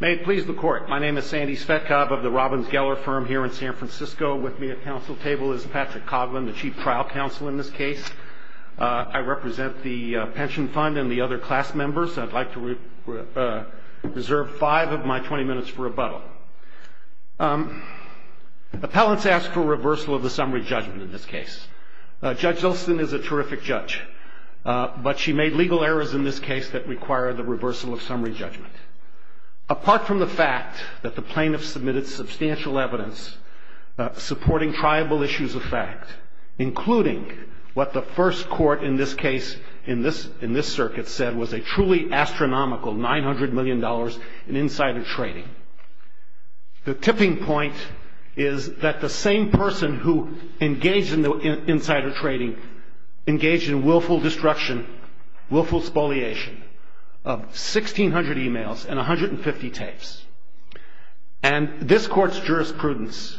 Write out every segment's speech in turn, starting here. May it please the Court, my name is Sandy Svetkov of the Robbins Geller Firm here in San Francisco. With me at Council Table is Patrick Coughlin, the Chief Trial Counsel in this case. I represent the Pension Fund and the other class members. I'd like to reserve five of my 20 minutes for rebuttal. Appellants ask for reversal of the summary judgment in this case. Judge Zolston is a terrific judge, but she made legal errors in this case that require the reversal of summary judgment. Apart from the fact that the plaintiff submitted substantial evidence supporting triable issues of fact, including what the first court in this case, in this circuit, said was a truly astronomical $900 million in insider trading. The tipping point is that the same person who engaged in the insider trading engaged in willful destruction, willful spoliation of 1,600 emails and 150 tapes. And this Court's jurisprudence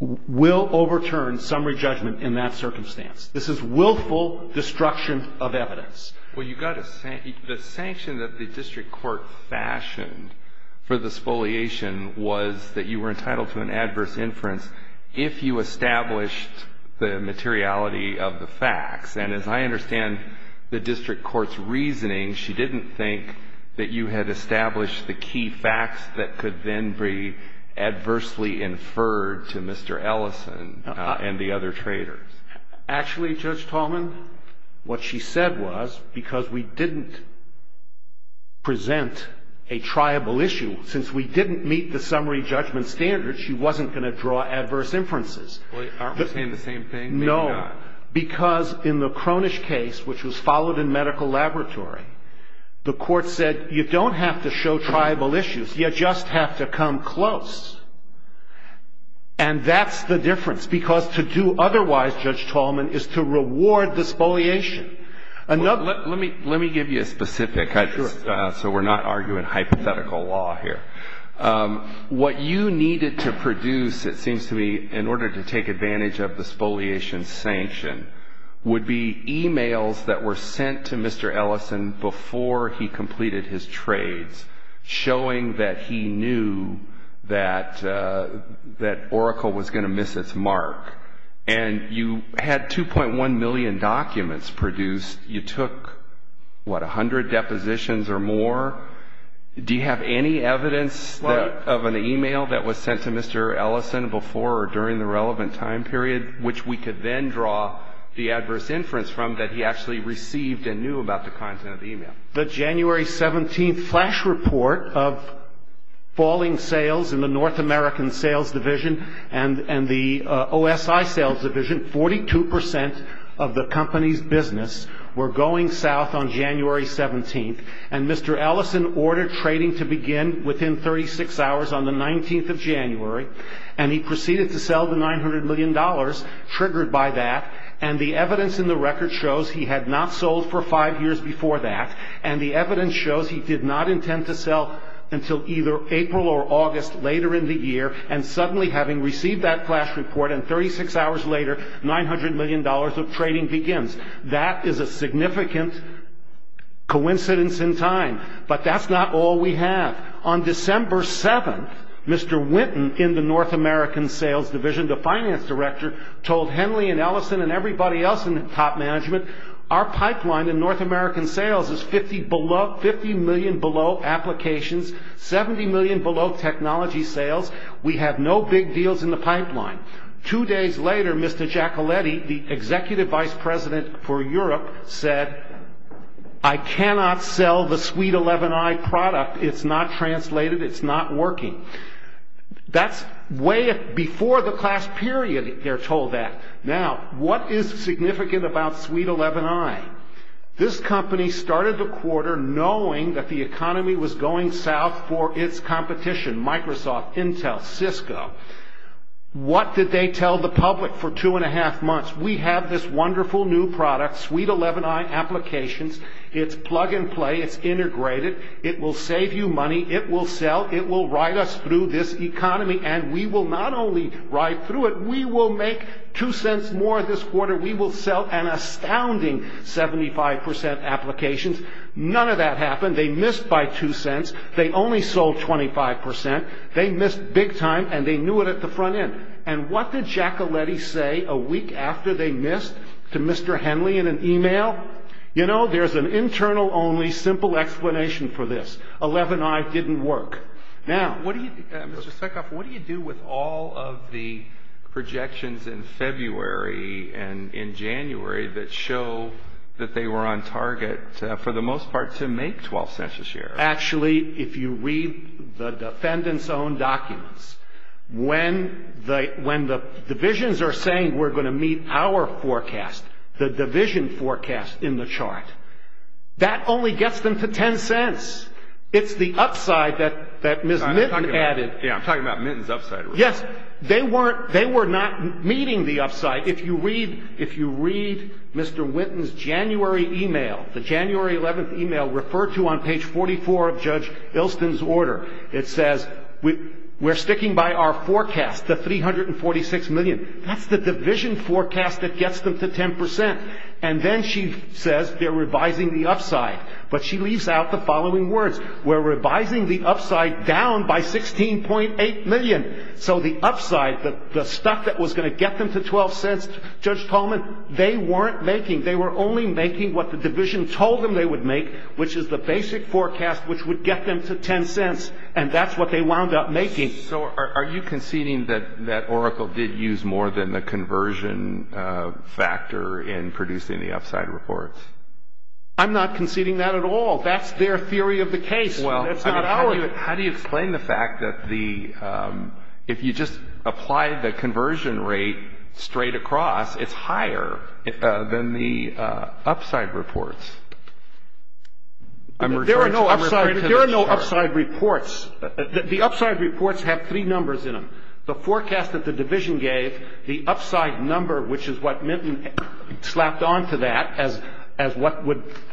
will overturn summary judgment in that circumstance. This is willful destruction of evidence. Well, the sanction that the district court fashioned for the spoliation was that you were entitled to an adverse inference if you established the materiality of the facts. And as I understand the district court's reasoning, she didn't think that you had established the key facts that could then be adversely inferred to Mr. Ellison and the other traders. Actually, Judge Tallman, what she said was, because we didn't present a triable issue, since we didn't meet the summary judgment standards, she wasn't going to draw adverse inferences. Aren't we saying the same thing? No. Maybe not. Because in the Cronish case, which was followed in medical laboratory, the Court said you don't have to show triable issues, you just have to come close. And that's the difference, because to do otherwise, Judge Tallman, is to reward the spoliation. Let me give you a specific, so we're not arguing hypothetical law here. What you needed to produce, it seems to me, in order to take advantage of the spoliation sanction would be emails that were sent to Mr. Ellison before he completed his trades, showing that he knew that Oracle was going to miss its mark. And you had 2.1 million documents produced. You took, what, 100 depositions or more? Do you have any evidence of an email that was sent to Mr. Ellison before or during the relevant time period, which we could then draw the adverse inference from, that he actually received and knew about the content of the email? The January 17th flash report of falling sales in the North American Sales Division and the OSI Sales Division, 42% of the company's business were going south on January 17th. And Mr. Ellison ordered trading to begin within 36 hours on the 19th of January. And he proceeded to sell the $900 million, triggered by that. And the evidence in the record shows he had not sold for five years before that. And the evidence shows he did not intend to sell until either April or August later in the year. And suddenly, having received that flash report, and 36 hours later, $900 million of trading begins. That is a significant coincidence in time. But that's not all we have. On December 7th, Mr. Winton, in the North American Sales Division, the finance director, told Henley and Ellison and everybody else in the top management, our pipeline in North American sales is 50 million below applications, 70 million below technology sales. We have no big deals in the pipeline. Two days later, Mr. Giacoletti, the executive vice president for Europe, said, I cannot sell the Suite 11i product. It's not translated. It's not working. That's way before the class period, they're told that. Now, what is significant about Suite 11i? This company started the quarter knowing that the economy was going south for its competition, Microsoft, Intel, Cisco. What did they tell the public for two and a half months? We have this wonderful new product, Suite 11i applications. It's plug and play. It's integrated. It will save you money. It will sell. It will ride us through this economy. And we will not only ride through it, we will make two cents more this quarter. We will sell an astounding 75% applications. None of that happened. They missed by two cents. They only sold 25%. They missed big time, and they knew it at the front end. And what did Giacoletti say a week after they missed to Mr. Henley in an e-mail? You know, there's an internal only simple explanation for this. 11i didn't work. Now, what do you do with all of the projections in February and in January that show that they were on target for the most part to make 12 cents a share? Actually, if you read the defendant's own documents, when the divisions are saying we're going to meet our forecast, the division forecast in the chart, that only gets them to 10 cents. It's the upside that Ms. Minton added. Yeah, I'm talking about Minton's upside. Yes, they were not meeting the upside. If you read Mr. Winton's January e-mail, the January 11th e-mail referred to on page 44 of Judge Ilston's order, it says we're sticking by our forecast, the 346 million. That's the division forecast that gets them to 10%. And then she says they're revising the upside. But she leaves out the following words. We're revising the upside down by 16.8 million. So the upside, the stuff that was going to get them to 12 cents, Judge Tolman, they weren't making. They were only making what the division told them they would make, which is the basic forecast which would get them to 10 cents. And that's what they wound up making. So are you conceding that Oracle did use more than the conversion factor in producing the upside reports? I'm not conceding that at all. That's their theory of the case. That's not ours. How do you explain the fact that if you just apply the conversion rate straight across, it's higher than the upside reports? There are no upside reports. The upside reports have three numbers in them, the forecast that the division gave, the upside number, which is what Minton slapped onto that as what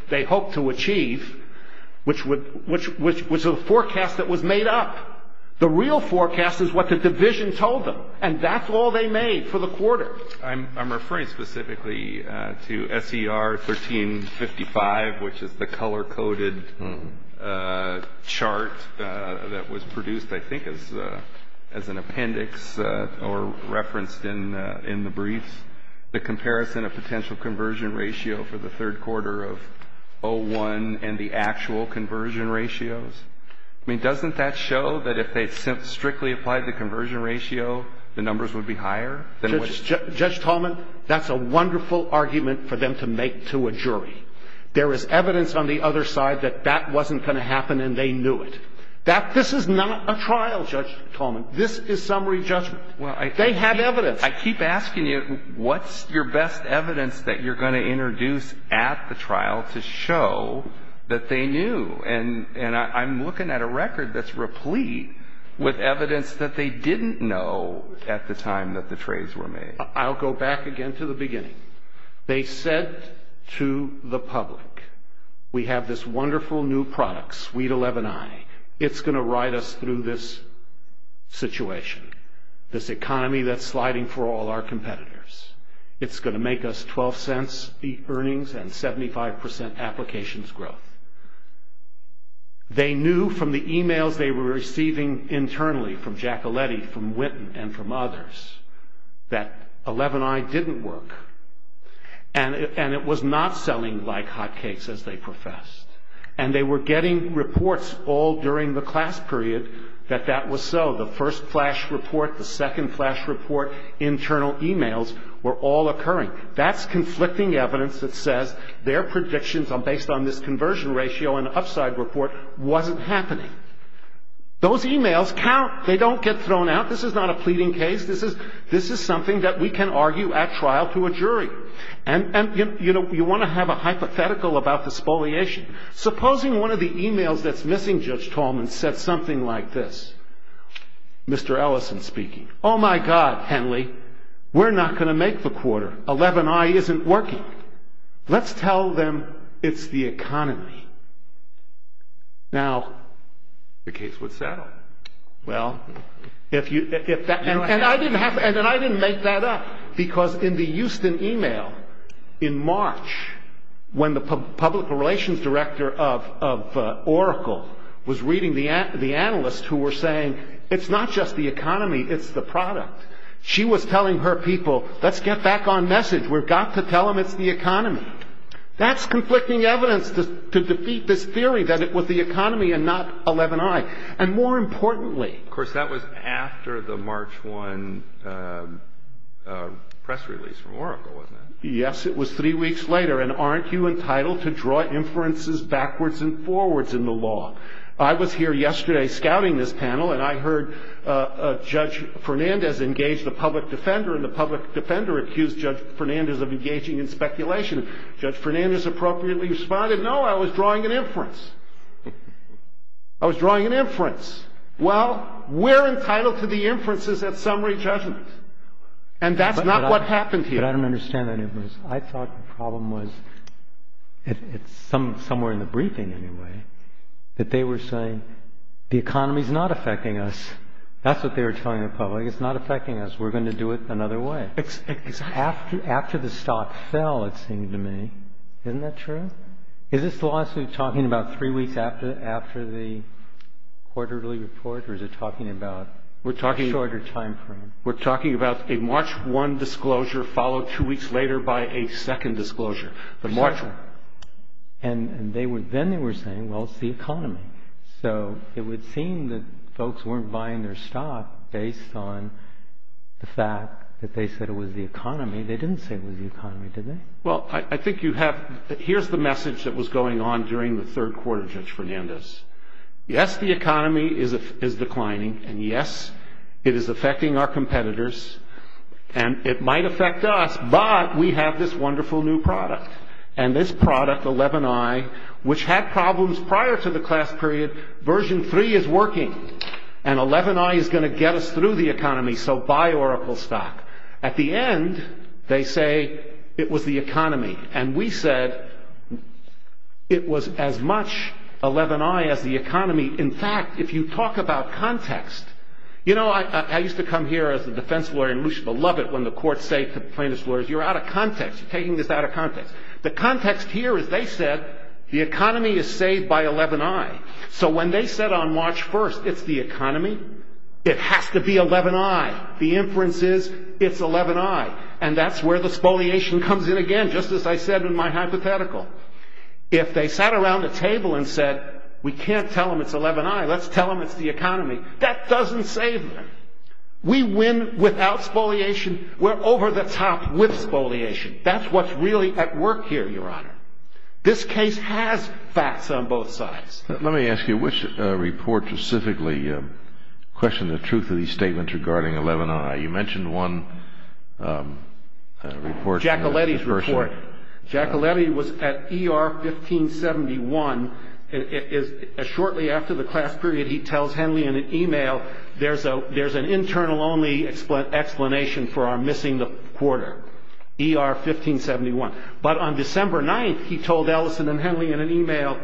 they hoped to achieve, which was a forecast that was made up. The real forecast is what the division told them, and that's all they made for the quarter. I'm referring specifically to SER 1355, which is the color-coded chart that was produced, I think, as an appendix or referenced in the briefs, the comparison of potential conversion ratio for the third quarter of 01 and the actual conversion ratios. I mean, doesn't that show that if they strictly applied the conversion ratio, the numbers would be higher? Judge Tolman, that's a wonderful argument for them to make to a jury. There is evidence on the other side that that wasn't going to happen and they knew it. This is not a trial, Judge Tolman. This is summary judgment. They have evidence. I keep asking you, what's your best evidence that you're going to introduce at the trial to show that they knew? And I'm looking at a record that's replete with evidence that they didn't know at the time that the trades were made. I'll go back again to the beginning. They said to the public, we have this wonderful new product, suite 11i. It's going to ride us through this situation, this economy that's sliding for all our competitors. It's going to make us $0.12 earnings and 75% applications growth. They knew from the e-mails they were receiving internally from Giacoletti, from Winton, and from others, that 11i didn't work. And it was not selling like hot cakes, as they professed. And they were getting reports all during the class period that that was so. The first flash report, the second flash report, internal e-mails were all occurring. That's conflicting evidence that says their predictions based on this conversion ratio and upside report wasn't happening. Those e-mails count. They don't get thrown out. This is not a pleading case. This is something that we can argue at trial to a jury. And, you know, you want to have a hypothetical about the spoliation. Supposing one of the e-mails that's missing, Judge Tallman, said something like this, Mr. Ellison speaking. Oh, my God, Henley, we're not going to make the quarter. 11i isn't working. Let's tell them it's the economy. Now, the case would settle. And I didn't make that up. Because in the Houston e-mail in March, when the public relations director of Oracle was reading the analysts who were saying it's not just the economy, it's the product. She was telling her people, let's get back on message. We've got to tell them it's the economy. That's conflicting evidence to defeat this theory that it was the economy and not 11i. And more importantly. Of course, that was after the March 1 press release from Oracle, wasn't it? Yes, it was three weeks later. And aren't you entitled to draw inferences backwards and forwards in the law? I was here yesterday scouting this panel, and I heard Judge Fernandez engage the public defender. And the public defender accused Judge Fernandez of engaging in speculation. I was drawing an inference. Well, we're entitled to the inferences at summary judgment. And that's not what happened here. But I don't understand that inference. I thought the problem was somewhere in the briefing, anyway, that they were saying the economy's not affecting us. That's what they were telling the public. It's not affecting us. We're going to do it another way. Exactly. After the stock fell, it seemed to me. Isn't that true? Is this lawsuit talking about three weeks after the quarterly report, or is it talking about a shorter time frame? We're talking about a March 1 disclosure followed two weeks later by a second disclosure, the March 1. And then they were saying, well, it's the economy. So it would seem that folks weren't buying their stock based on the fact that they said it was the economy. They didn't say it was the economy, did they? Well, I think you have – here's the message that was going on during the third quarter, Judge Fernandez. Yes, the economy is declining. And, yes, it is affecting our competitors. And it might affect us, but we have this wonderful new product. And this product, 11i, which had problems prior to the class period, version 3 is working. And 11i is going to get us through the economy, so buy Oracle stock. At the end, they say it was the economy. And we said it was as much 11i as the economy. In fact, if you talk about context – you know, I used to come here as a defense lawyer in Lucia Belovit when the courts say to plaintiff's lawyers, you're out of context, you're taking this out of context. The context here is they said the economy is saved by 11i. So when they said on March 1, it's the economy, it has to be 11i. The inference is it's 11i. And that's where the spoliation comes in again, just as I said in my hypothetical. If they sat around a table and said, we can't tell them it's 11i, let's tell them it's the economy, that doesn't save them. We win without spoliation. We're over the top with spoliation. That's what's really at work here, Your Honor. This case has facts on both sides. Let me ask you, which report specifically questioned the truth of these statements regarding 11i? You mentioned one report. Giacoletti's report. Giacoletti was at ER 1571. Shortly after the class period, he tells Henley in an email, there's an internal only explanation for our missing the quarter, ER 1571. But on December 9, he told Ellison and Henley in an email,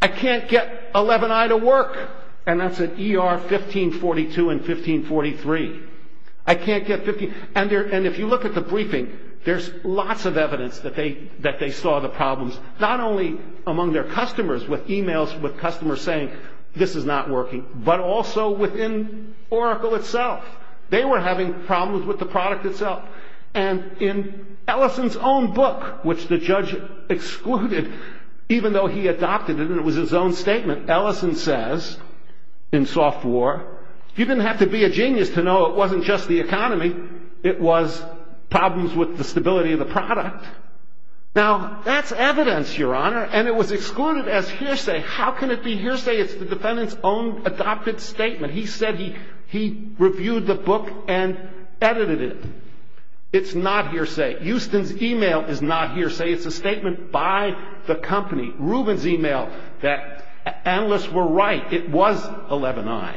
I can't get 11i to work. And that's at ER 1542 and 1543. I can't get 15. And if you look at the briefing, there's lots of evidence that they saw the problems, not only among their customers with emails with customers saying, this is not working, but also within Oracle itself. They were having problems with the product itself. And in Ellison's own book, which the judge excluded, even though he adopted it and it was his own statement, Ellison says in Software, you didn't have to be a genius to know it wasn't just the economy. It was problems with the stability of the product. Now, that's evidence, Your Honor. And it was excluded as hearsay. How can it be hearsay? It's the defendant's own adopted statement. He said he reviewed the book and edited it. It's not hearsay. Houston's email is not hearsay. It's a statement by the company, Rubin's email, that analysts were right. It was 11i.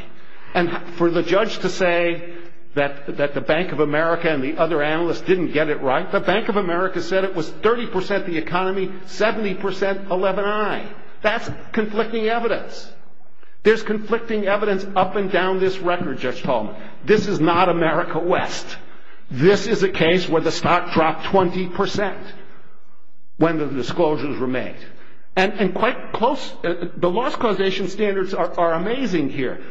And for the judge to say that the Bank of America and the other analysts didn't get it right, the Bank of America said it was 30% the economy, 70% 11i. That's conflicting evidence. There's conflicting evidence up and down this record, Judge Tolman. This is not America West. This is a case where the stock dropped 20% when the disclosures were made. And quite close, the loss causation standards are amazing here.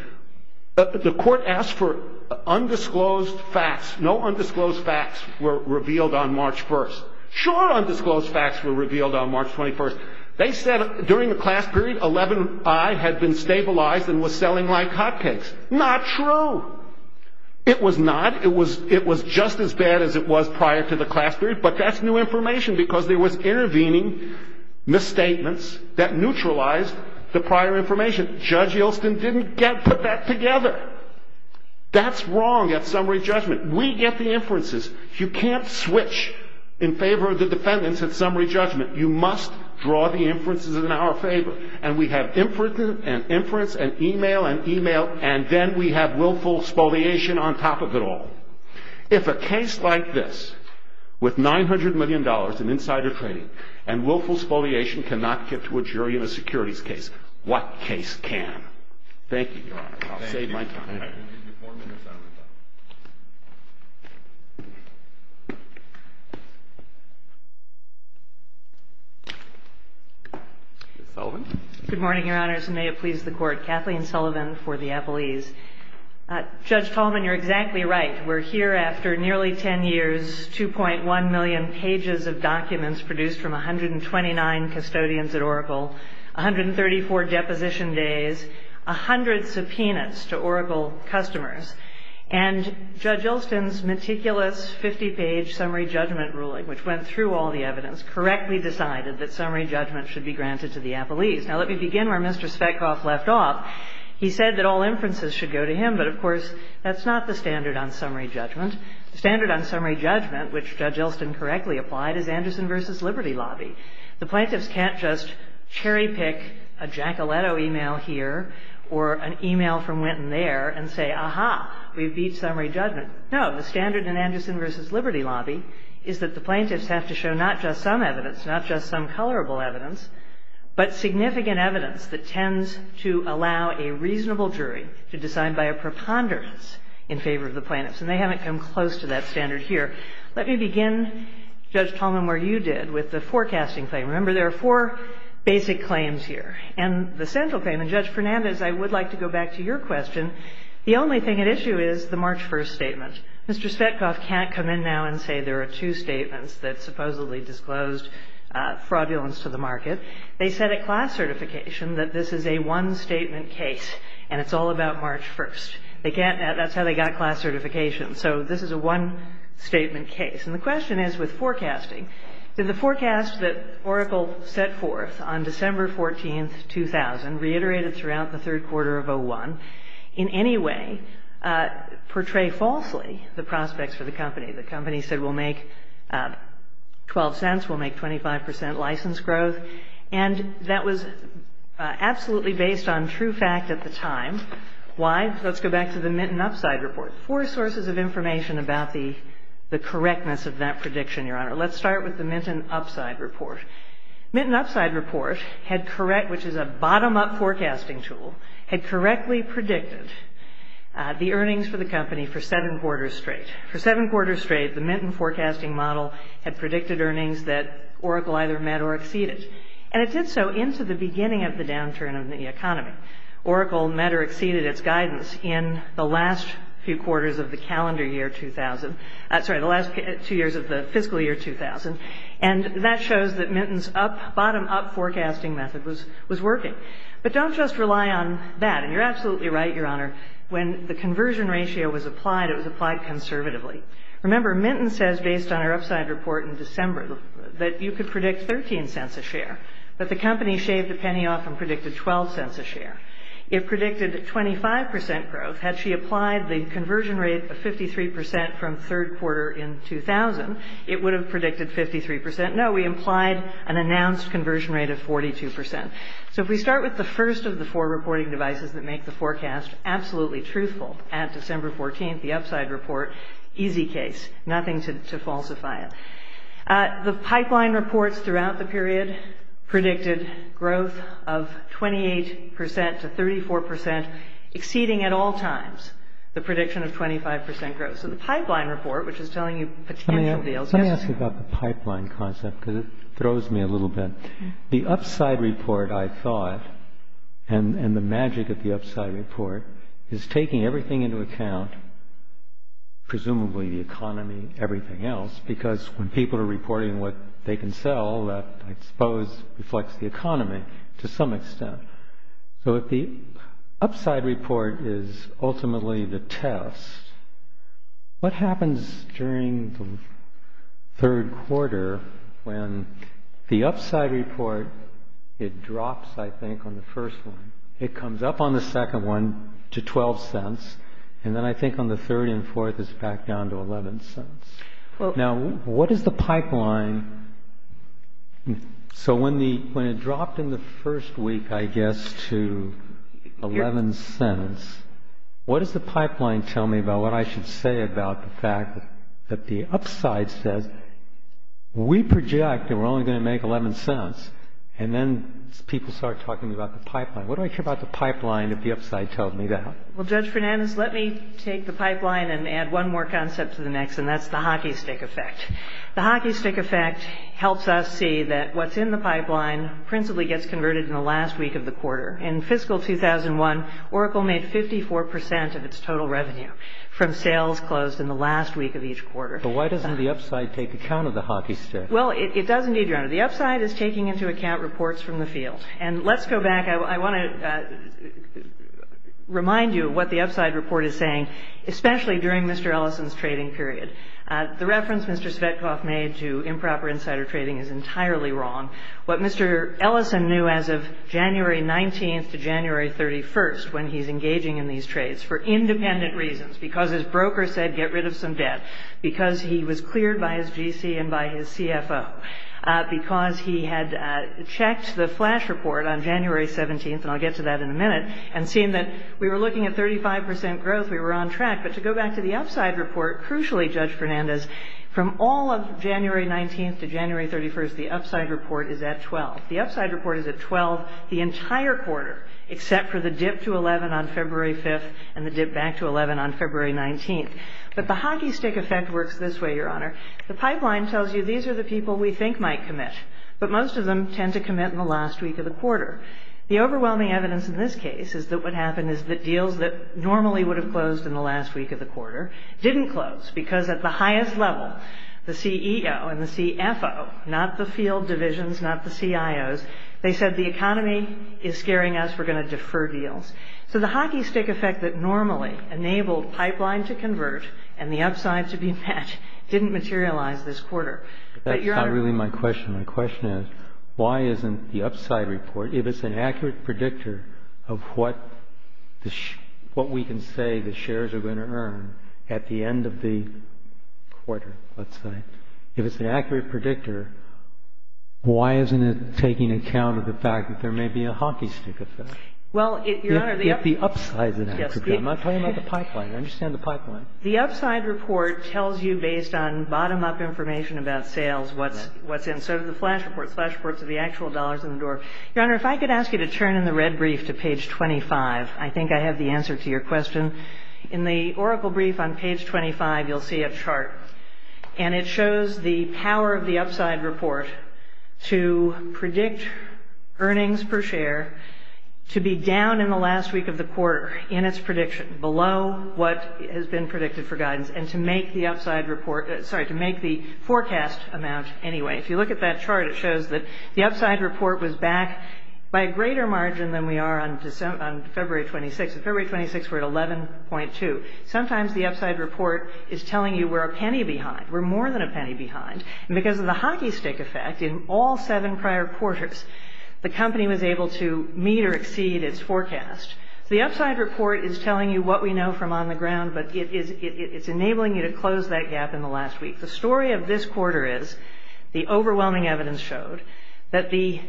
The court asked for undisclosed facts. No undisclosed facts were revealed on March 1st. Sure undisclosed facts were revealed on March 21st. They said during the class period 11i had been stabilized and was selling like hotcakes. Not true. It was not. It was just as bad as it was prior to the class period. But that's new information because there was intervening misstatements that neutralized the prior information. Judge Yelston didn't put that together. That's wrong at summary judgment. We get the inferences. You can't switch in favor of the defendants at summary judgment. You must draw the inferences in our favor. And we have inference and email and email, and then we have willful spoliation on top of it all. If a case like this with $900 million in insider trading and willful spoliation cannot get to a jury in a securities case, what case can? Thank you, Your Honor. I'll save my time. I will give you four minutes, Your Honor. Ms. Sullivan. Good morning, Your Honors, and may it please the Court. Kathleen Sullivan for the appellees. Judge Tolman, you're exactly right. We're here after nearly 10 years, 2.1 million pages of documents produced from 129 custodians at Oracle, 134 deposition days, 100 subpoenas to Oracle customers, and Judge Yelston's meticulous 50-page summary judgment ruling, which went through all the evidence, correctly decided that summary judgment should be granted to the appellees. Now, let me begin where Mr. Svetkoff left off. He said that all inferences should go to him, but, of course, that's not the standard on summary judgment. The standard on summary judgment, which Judge Yelston correctly applied, is Anderson v. Liberty Lobby. The plaintiffs can't just cherry-pick a Giacoletto email here or an email from Wynton there and say, aha, we've beat summary judgment. No. The standard in Anderson v. Liberty Lobby is that the plaintiffs have to show not just some evidence, not just some colorable evidence, but significant evidence that tends to allow a reasonable jury to decide by a preponderance in favor of the plaintiffs. And they haven't come close to that standard here. Let me begin, Judge Tallman, where you did with the forecasting claim. Remember, there are four basic claims here. And the central claim, and, Judge Fernandez, I would like to go back to your question, the only thing at issue is the March 1st statement. Mr. Svetkoff can't come in now and say there are two statements that supposedly disclosed fraudulence to the market. They said at class certification that this is a one-statement case and it's all about March 1st. They can't. That's how they got class certification. So this is a one-statement case. And the question is, with forecasting, did the forecast that Oracle set forth on December 14th, 2000, reiterated throughout the third quarter of 2001, in any way portray falsely the prospects for the company? The company said we'll make 12 cents, we'll make 25 percent license growth. And that was absolutely based on true fact at the time. Why? Let's go back to the Minton Upside Report. Four sources of information about the correctness of that prediction, Your Honor. Let's start with the Minton Upside Report. Minton Upside Report, which is a bottom-up forecasting tool, had correctly predicted the earnings for the company for seven quarters straight. For seven quarters straight, the Minton forecasting model had predicted earnings that Oracle either met or exceeded. And it did so into the beginning of the downturn of the economy. Oracle met or exceeded its guidance in the last few quarters of the calendar year 2000. Sorry, the last two years of the fiscal year 2000. And that shows that Minton's bottom-up forecasting method was working. But don't just rely on that. And you're absolutely right, Your Honor. When the conversion ratio was applied, it was applied conservatively. Remember, Minton says, based on her upside report in December, that you could predict 13 cents a share. But the company shaved a penny off and predicted 12 cents a share. It predicted 25 percent growth. Had she applied the conversion rate of 53 percent from third quarter in 2000, it would have predicted 53 percent. No, we implied an announced conversion rate of 42 percent. So if we start with the first of the four reporting devices that make the forecast absolutely truthful, at December 14th, the upside report, easy case, nothing to falsify it. The pipeline reports throughout the period predicted growth of 28 percent to 34 percent, exceeding at all times the prediction of 25 percent growth. So the pipeline report, which is telling you potential deals. Let me ask you about the pipeline concept because it throws me a little bit. The upside report, I thought, and the magic of the upside report is taking everything into account, presumably the economy, everything else, because when people are reporting what they can sell, that, I suppose, reflects the economy to some extent. So if the upside report is ultimately the test, what happens during the third quarter when the upside report, it drops, I think, on the first one. It comes up on the second one to 12 cents. And then I think on the third and fourth, it's back down to 11 cents. Now, what is the pipeline? So when it dropped in the first week, I guess, to 11 cents, what does the pipeline tell me about what I should say about the fact that the upside says, we project that we're only going to make 11 cents. And then people start talking about the pipeline. What do I care about the pipeline if the upside tells me that? Well, Judge Fernandez, let me take the pipeline and add one more concept to the next, and that's the hockey stick effect. The hockey stick effect helps us see that what's in the pipeline principally gets converted in the last week of the quarter. In fiscal 2001, Oracle made 54 percent of its total revenue from sales closed in the last week of each quarter. But why doesn't the upside take account of the hockey stick? Well, it does indeed, Your Honor. The upside is taking into account reports from the field. And let's go back. I want to remind you of what the upside report is saying, especially during Mr. Ellison's trading period. The reference Mr. Svetkov made to improper insider trading is entirely wrong. What Mr. Ellison knew as of January 19th to January 31st, when he's engaging in these trades, for independent reasons, because his broker said get rid of some debt, because he was cleared by his GC and by his CFO, because he had checked the flash report on January 17th, and I'll get to that in a minute, and seen that we were looking at 35 percent growth. We were on track. But to go back to the upside report, crucially, Judge Fernandez, from all of January 19th to January 31st, the upside report is at 12. The upside report is at 12 the entire quarter, except for the dip to 11 on February 5th and the dip back to 11 on February 19th. But the hockey stick effect works this way, Your Honor. The pipeline tells you these are the people we think might commit, but most of them tend to commit in the last week of the quarter. The overwhelming evidence in this case is that what happened is that deals that normally would have closed in the last week of the quarter didn't close, because at the highest level, the CEO and the CFO, not the field divisions, not the CIOs, they said the economy is scaring us, we're going to defer deals. So the hockey stick effect that normally enabled pipeline to convert and the upside to be met didn't materialize this quarter. That's not really my question. My question is why isn't the upside report, if it's an accurate predictor of what we can say the shares are going to earn at the end of the quarter, let's say, if it's an accurate predictor, why isn't it taking account of the fact that there may be a hockey stick effect? If the upside is an accurate predictor. I'm talking about the pipeline. I understand the pipeline. The upside report tells you, based on bottom-up information about sales, what's in. So does the flash report. Flash reports are the actual dollars in the door. Your Honor, if I could ask you to turn in the red brief to page 25, I think I have the answer to your question. In the Oracle brief on page 25, you'll see a chart, and it shows the power of the upside report to predict earnings per share to be down in the last week of the quarter in its prediction, below what has been predicted for guidance, and to make the forecast amount anyway. If you look at that chart, it shows that the upside report was back by a greater margin than we are on February 26th. On February 26th, we're at 11.2. Sometimes the upside report is telling you we're a penny behind. We're more than a penny behind. And because of the hockey stick effect, in all seven prior quarters, the company was able to meet or exceed its forecast. So the upside report is telling you what we know from on the ground, but it's enabling you to close that gap in the last week. The story of this quarter is, the overwhelming evidence showed, that the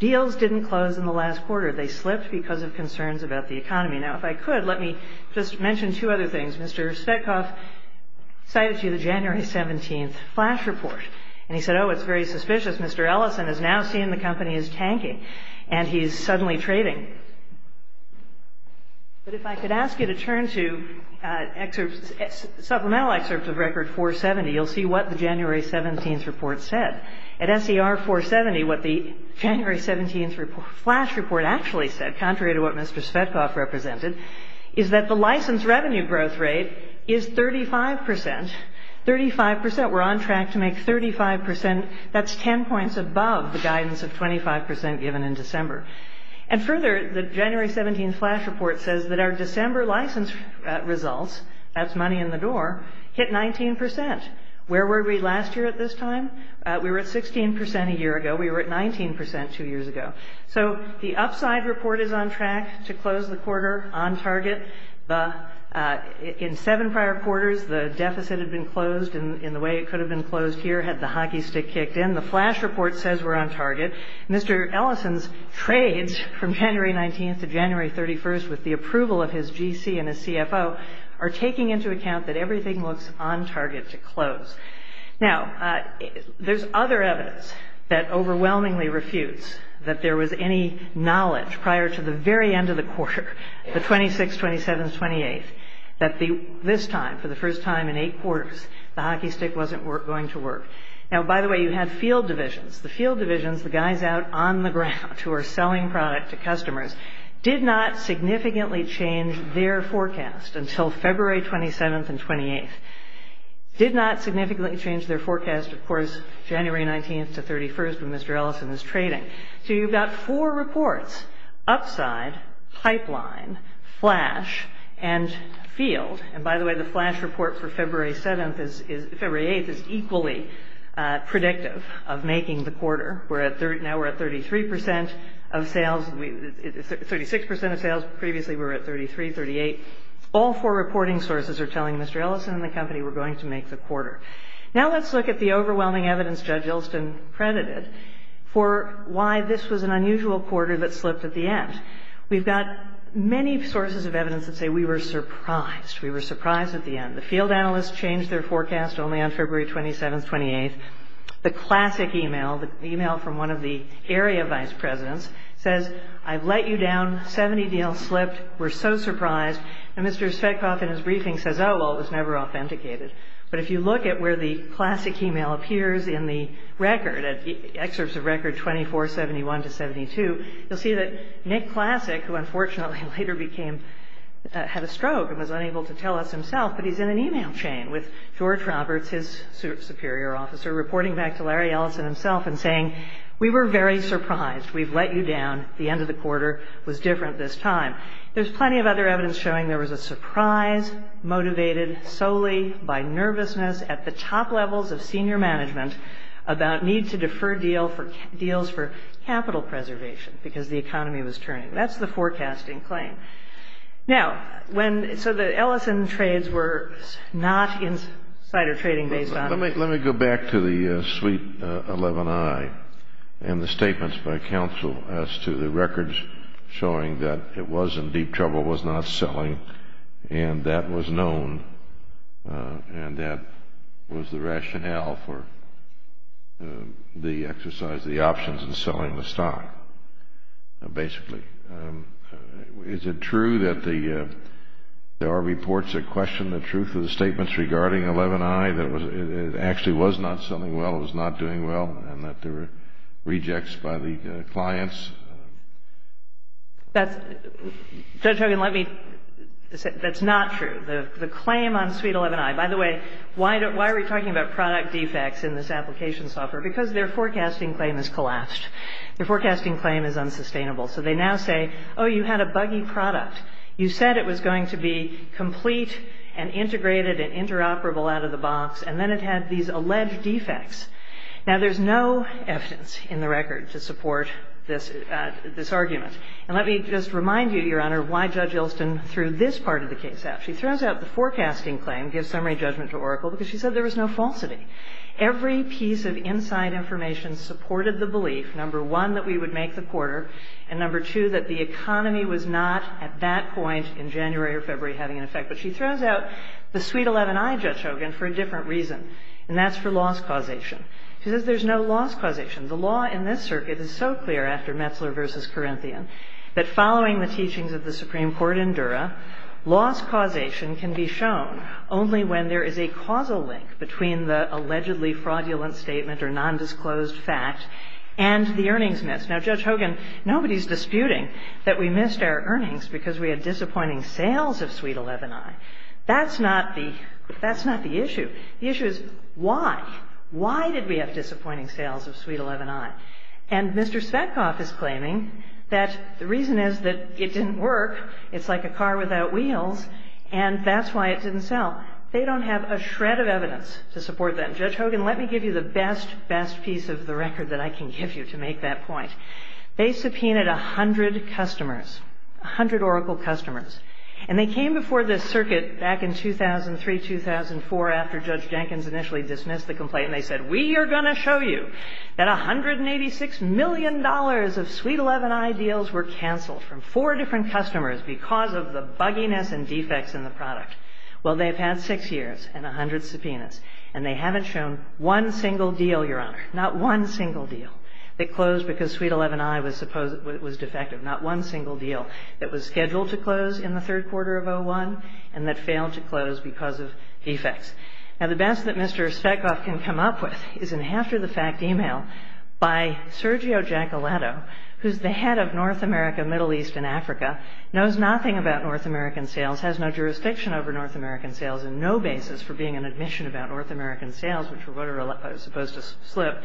deals didn't close in the last quarter. They slipped because of concerns about the economy. Now, if I could, let me just mention two other things. Mr. Svetkov cited to you the January 17th flash report. And he said, oh, it's very suspicious. Mr. Ellison has now seen the company is tanking, and he's suddenly trading. But if I could ask you to turn to supplemental excerpts of Record 470, you'll see what the January 17th report said. At SER 470, what the January 17th flash report actually said, contrary to what Mr. Svetkov represented, is that the license revenue growth rate is 35 percent. Thirty-five percent. We're on track to make 35 percent. That's ten points above the guidance of 25 percent given in December. And further, the January 17th flash report says that our December license results, that's money in the door, hit 19 percent. Where were we last year at this time? We were at 16 percent a year ago. We were at 19 percent two years ago. So the upside report is on track to close the quarter on target. In seven prior quarters, the deficit had been closed in the way it could have been closed here had the hockey stick kicked in. The flash report says we're on target. Mr. Ellison's trades from January 19th to January 31st, with the approval of his GC and his CFO, are taking into account that everything looks on target to close. Now, there's other evidence that overwhelmingly refutes that there was any knowledge prior to the very end of the quarter, the 26th, 27th, 28th, that this time, for the first time in eight quarters, the hockey stick wasn't going to work. Now, by the way, you had field divisions. The field divisions, the guys out on the ground who are selling product to customers, did not significantly change their forecast until February 27th and 28th. Did not significantly change their forecast, of course, January 19th to 31st when Mr. Ellison is trading. So you've got four reports, upside, pipeline, flash, and field. And, by the way, the flash report for February 7th is – February 8th is equally predictive of making the quarter. We're at – now we're at 33 percent of sales – 36 percent of sales. Previously, we were at 33, 38. All four reporting sources are telling Mr. Ellison and the company we're going to make the quarter. Now let's look at the overwhelming evidence Judge Ilston credited for why this was an unusual quarter that slipped at the end. We've got many sources of evidence that say we were surprised. We were surprised at the end. The field analysts changed their forecast only on February 27th, 28th. The classic email, the email from one of the area vice presidents, says, I've let you down. 70 deals slipped. We're so surprised. And Mr. Svetkov in his briefing says, oh, well, it was never authenticated. But if you look at where the classic email appears in the record, excerpts of record 2471 to 72, you'll see that Nick Classic, who unfortunately later became – had a stroke and was unable to tell us himself, but he's in an email chain with George Roberts, his superior officer, reporting back to Larry Ellison himself and saying, we were very surprised. We've let you down. The end of the quarter was different this time. There's plenty of other evidence showing there was a surprise motivated solely by nervousness at the top levels of senior management about need to defer deals for capital preservation because the economy was turning. That's the forecasting claim. Now, when – so the Ellison trades were not insider trading based on – and the statements by counsel as to the records showing that it was in deep trouble, was not selling, and that was known and that was the rationale for the exercise, the options in selling the stock, basically. Is it true that there are reports that question the truth of the statements regarding 11i, that it actually was not selling well, it was not doing well, and that there were rejects by the clients? That's – Judge Hogan, let me – that's not true. The claim on suite 11i – by the way, why are we talking about product defects in this application software? Because their forecasting claim has collapsed. Their forecasting claim is unsustainable. So they now say, oh, you had a buggy product. You said it was going to be complete and integrated and interoperable out of the box, and then it had these alleged defects. Now, there's no evidence in the record to support this argument. And let me just remind you, Your Honor, why Judge Elston threw this part of the case out. She throws out the forecasting claim, gives summary judgment to Oracle, because she said there was no falsity. Every piece of inside information supported the belief, number one, that we would make the quarter, and number two, that the economy was not at that point in January or February having an effect. But she throws out the suite 11i, Judge Hogan, for a different reason, and that's for loss causation. She says there's no loss causation. The law in this circuit is so clear after Metzler v. Corinthian that following the teachings of the Supreme Court in Dura, loss causation can be shown only when there is a causal link between the allegedly fraudulent statement or nondisclosed fact and the earnings miss. Now, Judge Hogan, nobody's disputing that we missed our earnings because we had disappointing sales of suite 11i. That's not the issue. The issue is why. Why did we have disappointing sales of suite 11i? And Mr. Svetkoff is claiming that the reason is that it didn't work. It's like a car without wheels, and that's why it didn't sell. They don't have a shred of evidence to support that. Judge Hogan, let me give you the best, best piece of the record that I can give you to make that point. They subpoenaed 100 customers, 100 Oracle customers, and they came before this circuit back in 2003, 2004, after Judge Jenkins initially dismissed the complaint, and they said, we are going to show you that $186 million of suite 11i deals were canceled from four different customers because of the bugginess and defects in the product. Well, they've had six years and 100 subpoenas, and they haven't shown one single deal, Your Honor, not one single deal that closed because suite 11i was defective, not one single deal that was scheduled to close in the third quarter of 2001 and that failed to close because of defects. Now, the best that Mr. Svetkoff can come up with is an after-the-fact email by Sergio Giacolato, who's the head of North America, Middle East, and Africa, knows nothing about North American sales, has no jurisdiction over North American sales, and no basis for being an admission about North American sales, which is what I was supposed to slip,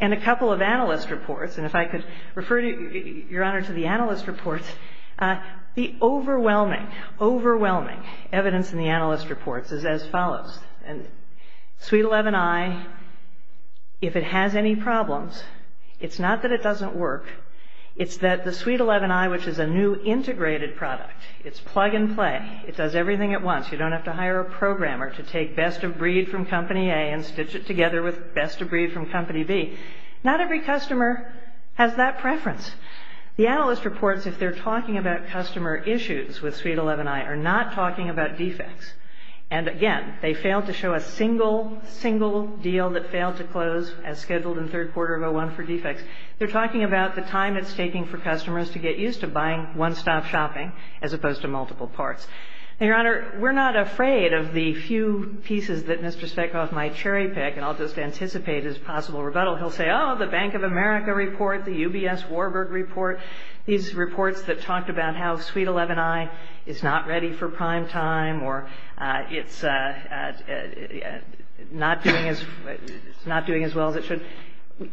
and a couple of analyst reports, and if I could refer, Your Honor, to the analyst reports, the overwhelming, overwhelming evidence in the analyst reports is as follows. Suite 11i, if it has any problems, it's not that it doesn't work. It's that the suite 11i, which is a new integrated product, it's plug and play. It does everything at once. You don't have to hire a programmer to take best of breed from company A and stitch it together with best of breed from company B. Not every customer has that preference. The analyst reports, if they're talking about customer issues with suite 11i, are not talking about defects, and again, they failed to show a single, single deal that failed to close as scheduled in third quarter of 2001 for defects. They're talking about the time it's taking for customers to get used to buying one-stop shopping as opposed to multiple parts. Now, Your Honor, we're not afraid of the few pieces that Mr. Speckoff might cherry pick, and I'll just anticipate his possible rebuttal. He'll say, oh, the Bank of America report, the UBS Warburg report, these reports that talked about how suite 11i is not ready for prime time or it's not doing as well as it should.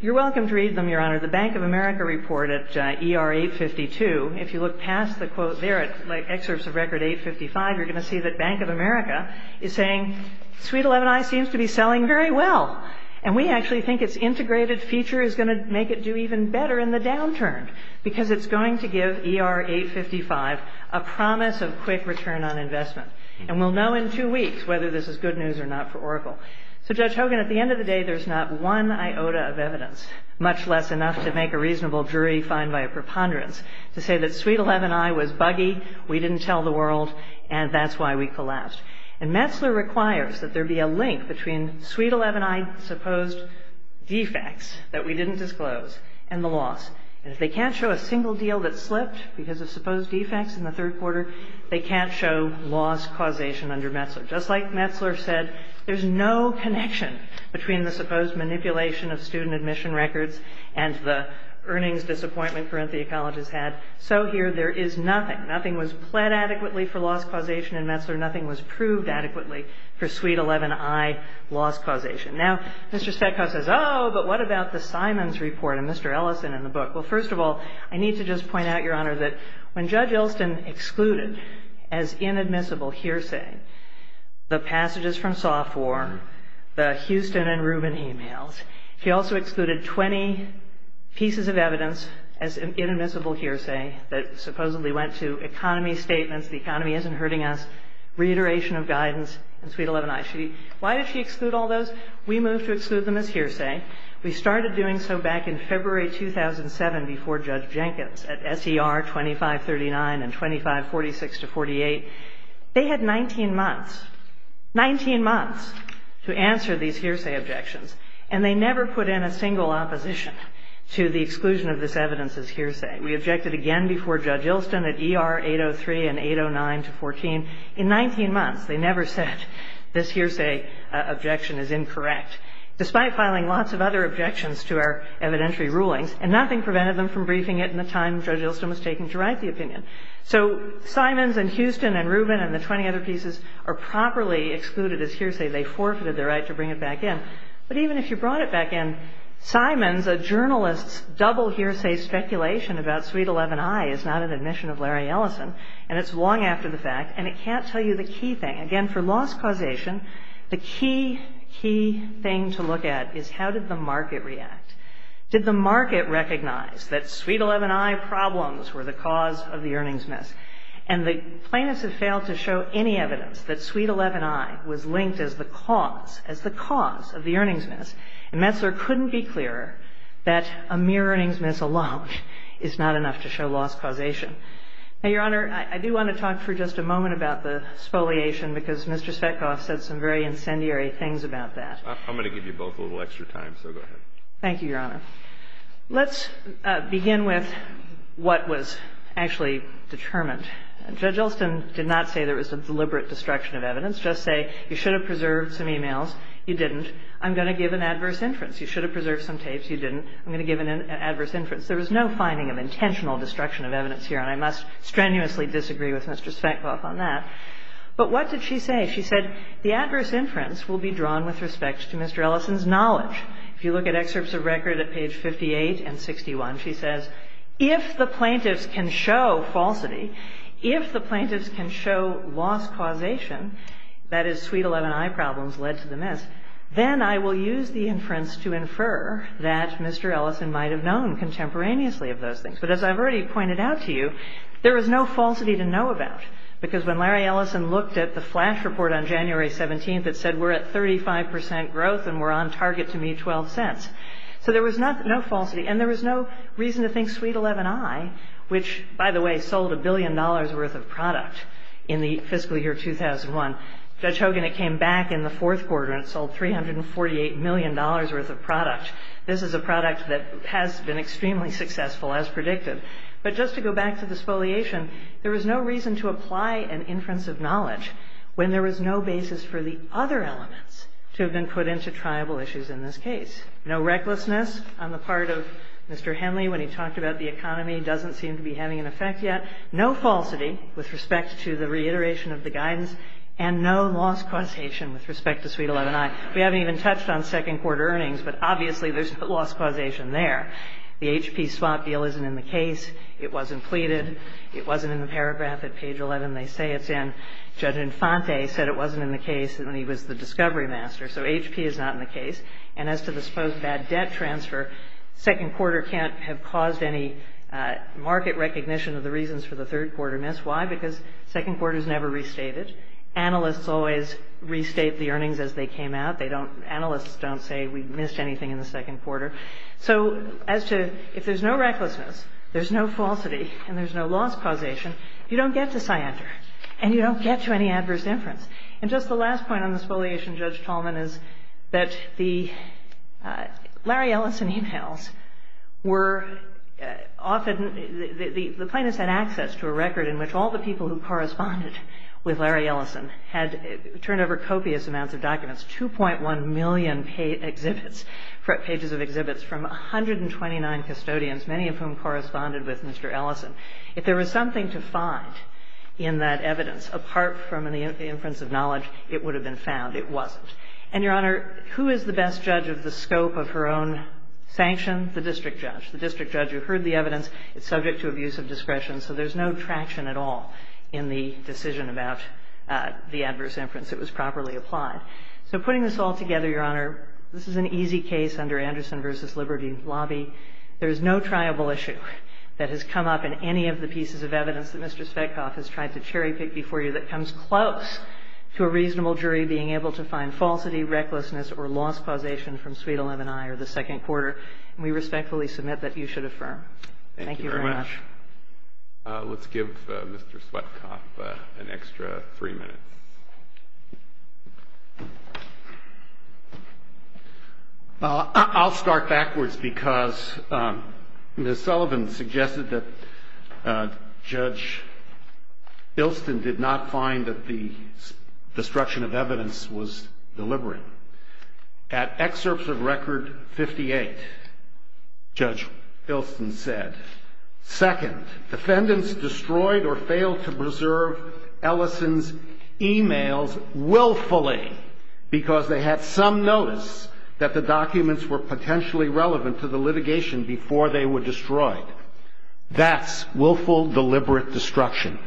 You're welcome to read them, Your Honor. The Bank of America report at ER 852, if you look past the quote there at excerpts of record 855, you're going to see that Bank of America is saying suite 11i seems to be selling very well, and we actually think its integrated feature is going to make it do even better in the downturn because it's going to give ER 855 a promise of quick return on investment, and we'll know in two weeks whether this is good news or not for Oracle. So, Judge Hogan, at the end of the day, there's not one iota of evidence, much less enough to make a reasonable jury find by a preponderance, to say that suite 11i was buggy, we didn't tell the world, and that's why we collapsed. And Metzler requires that there be a link between suite 11i's supposed defects that we didn't disclose and the loss. And if they can't show a single deal that slipped because of supposed defects in the third quarter, they can't show loss causation under Metzler. Just like Metzler said, there's no connection between the supposed manipulation of student admission records and the earnings disappointment Carinthia College has had, so here there is nothing. Nothing was pled adequately for loss causation in Metzler. Nothing was proved adequately for suite 11i loss causation. Now, Mr. Stetka says, oh, but what about the Simons report and Mr. Ellison in the book? Well, first of all, I need to just point out, Your Honor, that when Judge Ellison excluded as inadmissible hearsay the passages from Software, the Houston and Rubin e-mails, she also excluded 20 pieces of evidence as inadmissible hearsay that supposedly went to economy statements, the economy isn't hurting us, reiteration of guidance in suite 11i. Why did she exclude all those? We moved to exclude them as hearsay. We started doing so back in February 2007 before Judge Jenkins at S.E.R. 2539 and 2546-48. They had 19 months, 19 months to answer these hearsay objections, and they never put in a single opposition to the exclusion of this evidence as hearsay. We objected again before Judge Ilston at E.R. 803 and 809-14. In 19 months, they never said this hearsay objection is incorrect. Despite filing lots of other objections to our evidentiary rulings, and nothing prevented them from briefing it in the time Judge Ilston was taking to write the opinion. So Simons and Houston and Rubin and the 20 other pieces are properly excluded as hearsay. They forfeited their right to bring it back in. But even if you brought it back in, Simons, a journalist's double hearsay speculation about suite 11i is not an admission of Larry Ellison, and it's long after the fact, and it can't tell you the key thing. Again, for loss causation, the key, key thing to look at is how did the market react? Did the market recognize that suite 11i problems were the cause of the earnings miss? And the plaintiffs have failed to show any evidence that suite 11i was linked as the cause, as the cause of the earnings miss. And Messler couldn't be clearer that a mere earnings miss alone is not enough to show loss causation. Now, Your Honor, I do want to talk for just a moment about the spoliation, because Mr. Svetkoff said some very incendiary things about that. I'm going to give you both a little extra time, so go ahead. Thank you, Your Honor. Let's begin with what was actually determined. Judge Ilston did not say there was a deliberate destruction of evidence. Just say you should have preserved some e-mails. You didn't. I'm going to give an adverse inference. You should have preserved some tapes. You didn't. I'm going to give an adverse inference. There was no finding of intentional destruction of evidence here, and I must strenuously disagree with Mr. Svetkoff on that. But what did she say? She said the adverse inference will be drawn with respect to Mr. Ellison's knowledge. If you look at excerpts of record at page 58 and 61, she says, if the plaintiffs can show falsity, if the plaintiffs can show loss causation, that is, suite 11i problems led to the miss, then I will use the inference to infer that Mr. Ellison might have known contemporaneously of those things. But as I've already pointed out to you, there was no falsity to know about, because when Larry Ellison looked at the flash report on January 17th, it said we're at 35 percent growth and we're on target to meet 12 cents. So there was no falsity, and there was no reason to think suite 11i, which, by the way, sold a billion dollars' worth of product in the fiscal year 2001. Judge Hogan, it came back in the fourth quarter and it sold $348 million worth of product. This is a product that has been extremely successful, as predicted. But just to go back to the spoliation, there was no reason to apply an inference of knowledge when there was no basis for the other elements to have been put into triable issues in this case. No recklessness on the part of Mr. Henley when he talked about the economy doesn't seem to be having an effect yet. No falsity with respect to the reiteration of the guidance, and no loss causation with respect to suite 11i. We haven't even touched on second quarter earnings, but obviously there's no loss causation there. The HP swap deal isn't in the case. It wasn't pleaded. It wasn't in the paragraph at page 11 they say it's in. Judge Infante said it wasn't in the case, and he was the discovery master. So HP is not in the case. And as to the supposed bad debt transfer, second quarter can't have caused any market recognition of the reasons for the third quarter miss. Why? Because second quarter's never restated. Analysts always restate the earnings as they came out. They don't, analysts don't say we missed anything in the second quarter. So as to, if there's no recklessness, there's no falsity, and there's no loss causation, you don't get to Scyander, and you don't get to any adverse inference. And just the last point on the spoliation, Judge Tallman, is that the Larry Ellison emails were often, the plaintiffs had access to a record in which all the people who corresponded with Larry Ellison had turned over copious amounts of documents, 2.1 million pages of exhibits from 129 custodians, many of whom corresponded with Mr. Ellison. If there was something to find in that evidence, apart from the inference of knowledge, it would have been found. It wasn't. And, Your Honor, who is the best judge of the scope of her own sanction? The district judge. The district judge who heard the evidence is subject to abuse of discretion, so there's no traction at all in the decision about the adverse inference. It was properly applied. So putting this all together, Your Honor, this is an easy case under Anderson v. Liberty Lobby. There is no triable issue that has come up in any of the pieces of evidence that Mr. Svetkoff has tried to cherry-pick before you that comes close to a reasonable jury being able to find falsity, recklessness, or loss causation from Suite 11-I or the second quarter. And we respectfully submit that you should affirm. Thank you very much. Thank you very much. Let's give Mr. Svetkoff an extra three minutes. I'll start backwards because Ms. Sullivan suggested that Judge Ilston did not find that the destruction of evidence was deliberate. At excerpts of Record 58, Judge Ilston said, Second, defendants destroyed or failed to preserve Ellison's e-mails willfully because they had some notice that the documents were potentially relevant to the litigation before they were destroyed. That's willful, deliberate destruction.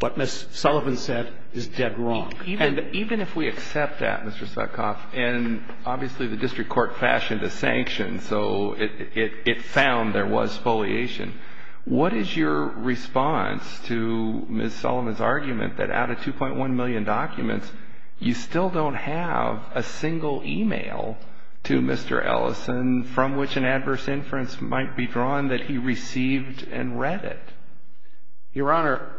What Ms. Sullivan said is dead wrong. And even if we accept that, Mr. Svetkoff, and obviously the district court fashioned a sanction so it found there was foliation, what is your response to Ms. Sullivan's argument that out of 2.1 million documents, you still don't have a single e-mail to Mr. Ellison from which an adverse inference might be drawn that he received and read it? Your Honor,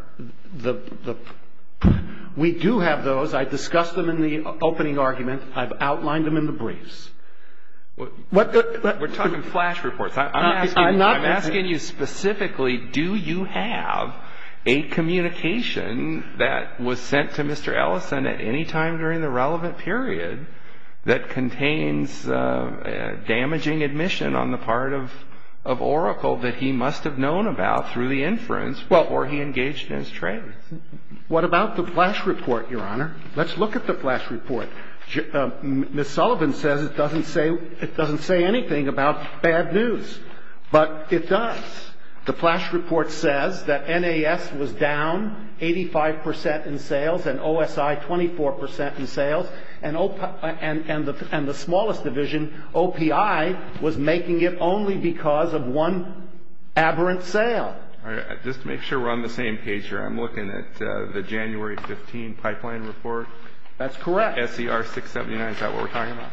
we do have those. I discussed them in the opening argument. I've outlined them in the briefs. We're talking flash reports. I'm asking you specifically do you have a communication that was sent to Mr. Ellison at any time during the relevant period that contains damaging admission on the part of Oracle that he must have known about through the inference before he engaged in his trade? What about the flash report, Your Honor? Let's look at the flash report. Ms. Sullivan says it doesn't say anything about bad news, but it does. The flash report says that NAS was down 85 percent in sales and OSI 24 percent in sales and the smallest division, OPI, was making it only because of one aberrant sale. Just to make sure we're on the same page here, I'm looking at the January 15 pipeline report. That's correct. SER 679, is that what we're talking about?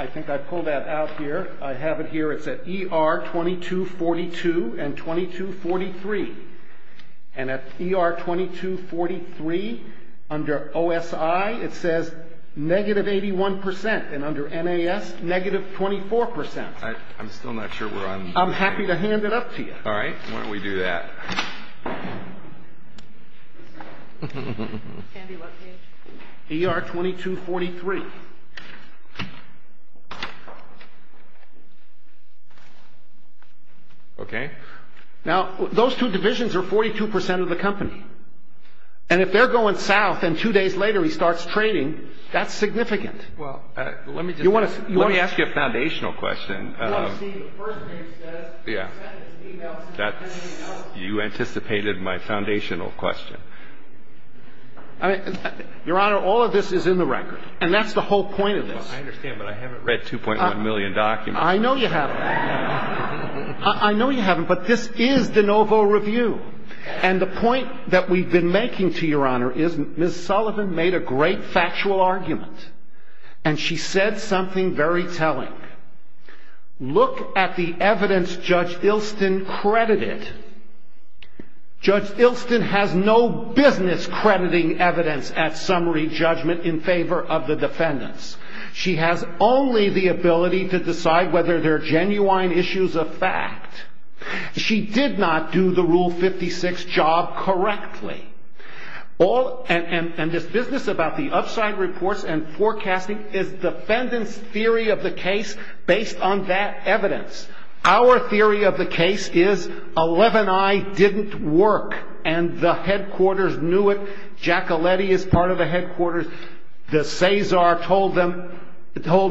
I think I pulled that out here. I have it here. It's at ER 2242 and 2243. And at ER 2243, under OSI, it says negative 81 percent, and under NAS, negative 24 percent. I'm still not sure where I'm— I'm happy to hand it up to you. All right. Why don't we do that? ER 2243. Okay. Now, those two divisions are 42 percent of the company. And if they're going south and two days later he starts trading, that's significant. Well, let me just— You want to— Let me ask you a foundational question. Well, see, the first page says— Yeah. You anticipated my foundational question. Your Honor, all of this is in the record, and that's the whole point of this. Well, I understand, but I haven't read 2.1 million documents. I know you haven't. I know you haven't, but this is de novo review. And the point that we've been making to your Honor is Ms. Sullivan made a great factual argument. And she said something very telling. Look at the evidence Judge Ilston credited. Judge Ilston has no business crediting evidence at summary judgment in favor of the defendants. She has only the ability to decide whether they're genuine issues of fact. She did not do the Rule 56 job correctly. And this business about the upside reports and forecasting is defendants' theory of the case based on that evidence. Our theory of the case is 11i didn't work, and the headquarters knew it. Giacoletti is part of the headquarters. De Cesar told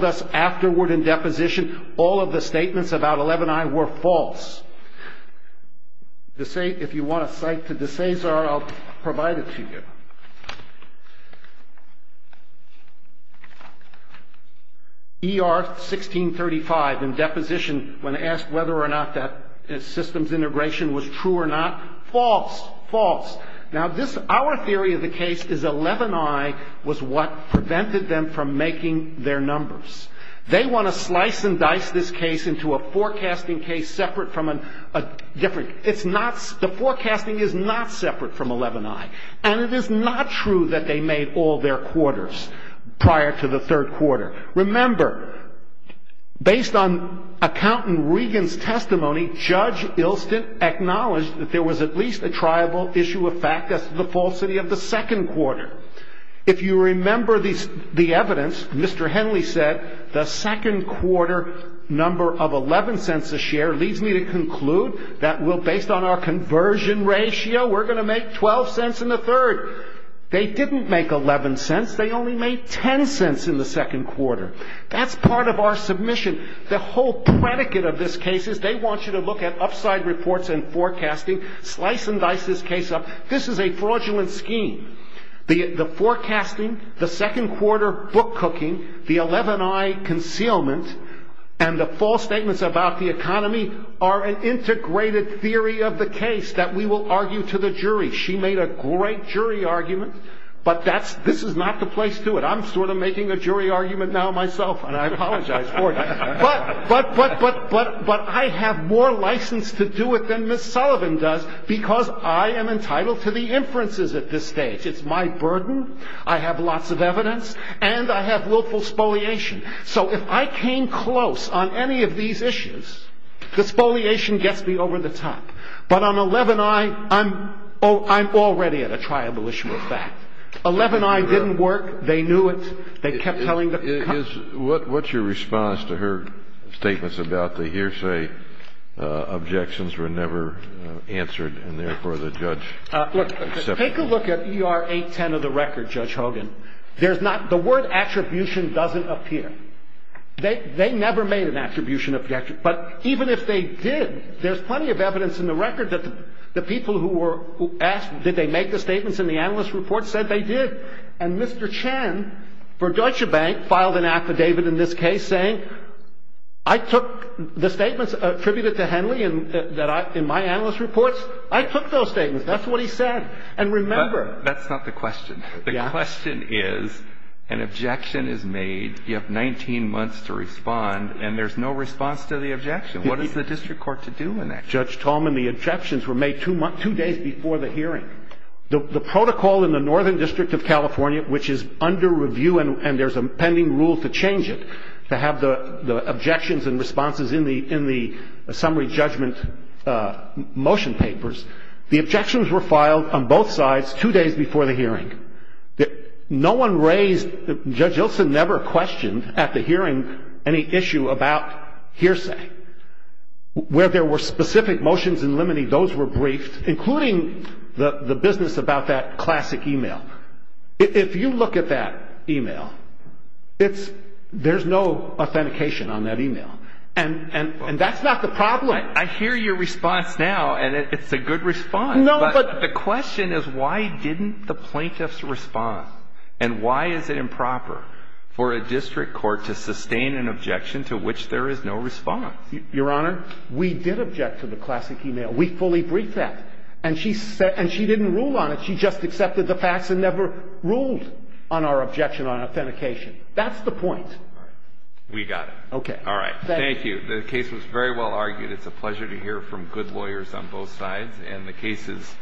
us afterward in deposition all of the statements about 11i were false. If you want a cite to De Cesar, I'll provide it to you. ER 1635 in deposition, when asked whether or not that systems integration was true or not, false, false. Now, this, our theory of the case is 11i was what prevented them from making their numbers. They want to slice and dice this case into a forecasting case separate from a different, it's not, the forecasting is not separate from 11i. And it is not true that they made all their quarters prior to the third quarter. Remember, based on Accountant Regan's testimony, Judge Ilston acknowledged that there was at least a triable issue of fact. That's the falsity of the second quarter. If you remember the evidence, Mr. Henley said the second quarter number of 11 cents a share leads me to conclude that we'll, based on our conversion ratio, we're going to make 12 cents in the third. They didn't make 11 cents, they only made 10 cents in the second quarter. That's part of our submission. The whole predicate of this case is they want you to look at upside reports and forecasting, slice and dice this case up. This is a fraudulent scheme. The forecasting, the second quarter book cooking, the 11i concealment, and the false statements about the economy are an integrated theory of the case that we will argue to the jury. She made a great jury argument, but this is not the place to do it. I'm sort of making a jury argument now myself, and I apologize for it. But I have more license to do it than Ms. Sullivan does because I am entitled to the inferences at this stage. It's my burden, I have lots of evidence, and I have willful spoliation. So if I came close on any of these issues, the spoliation gets me over the top. But on 11i, I'm already at a triable issue of fact. 11i didn't work. They knew it. They kept telling the court. What's your response to her statements about the hearsay objections were never answered and therefore the judge accepted them? Take a look at ER 810 of the record, Judge Hogan. There's not the word attribution doesn't appear. They never made an attribution. But even if they did, there's plenty of evidence in the record that the people who asked did they make the statements in the analyst report said they did. And Mr. Chen for Deutsche Bank filed an affidavit in this case saying I took the statements attributed to Henley in my analyst reports. I took those statements. That's what he said. And remember. That's not the question. The question is an objection is made. You have 19 months to respond and there's no response to the objection. What is the district court to do in that case? Judge Tolman, the objections were made two days before the hearing. The protocol in the Northern District of California, which is under review and there's a pending rule to change it, to have the objections and responses in the summary judgment motion papers, the objections were filed on both sides two days before the hearing. No one raised, Judge Ilson never questioned at the hearing any issue about hearsay. Where there were specific motions in limine, those were briefed, including the business about that classic e-mail. If you look at that e-mail, it's, there's no authentication on that e-mail. And that's not the problem. I hear your response now and it's a good response. But the question is why didn't the plaintiffs respond? And why is it improper for a district court to sustain an objection to which there is no response? Your Honor, we did object to the classic e-mail. We fully briefed that. And she said, and she didn't rule on it. She just accepted the facts and never ruled on our objection on authentication. That's the point. We got it. Okay. Thank you. The case was very well argued. It's a pleasure to hear from good lawyers on both sides. And the case is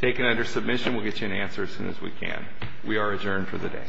taken under submission. We'll get you an answer as soon as we can. We are adjourned for the day.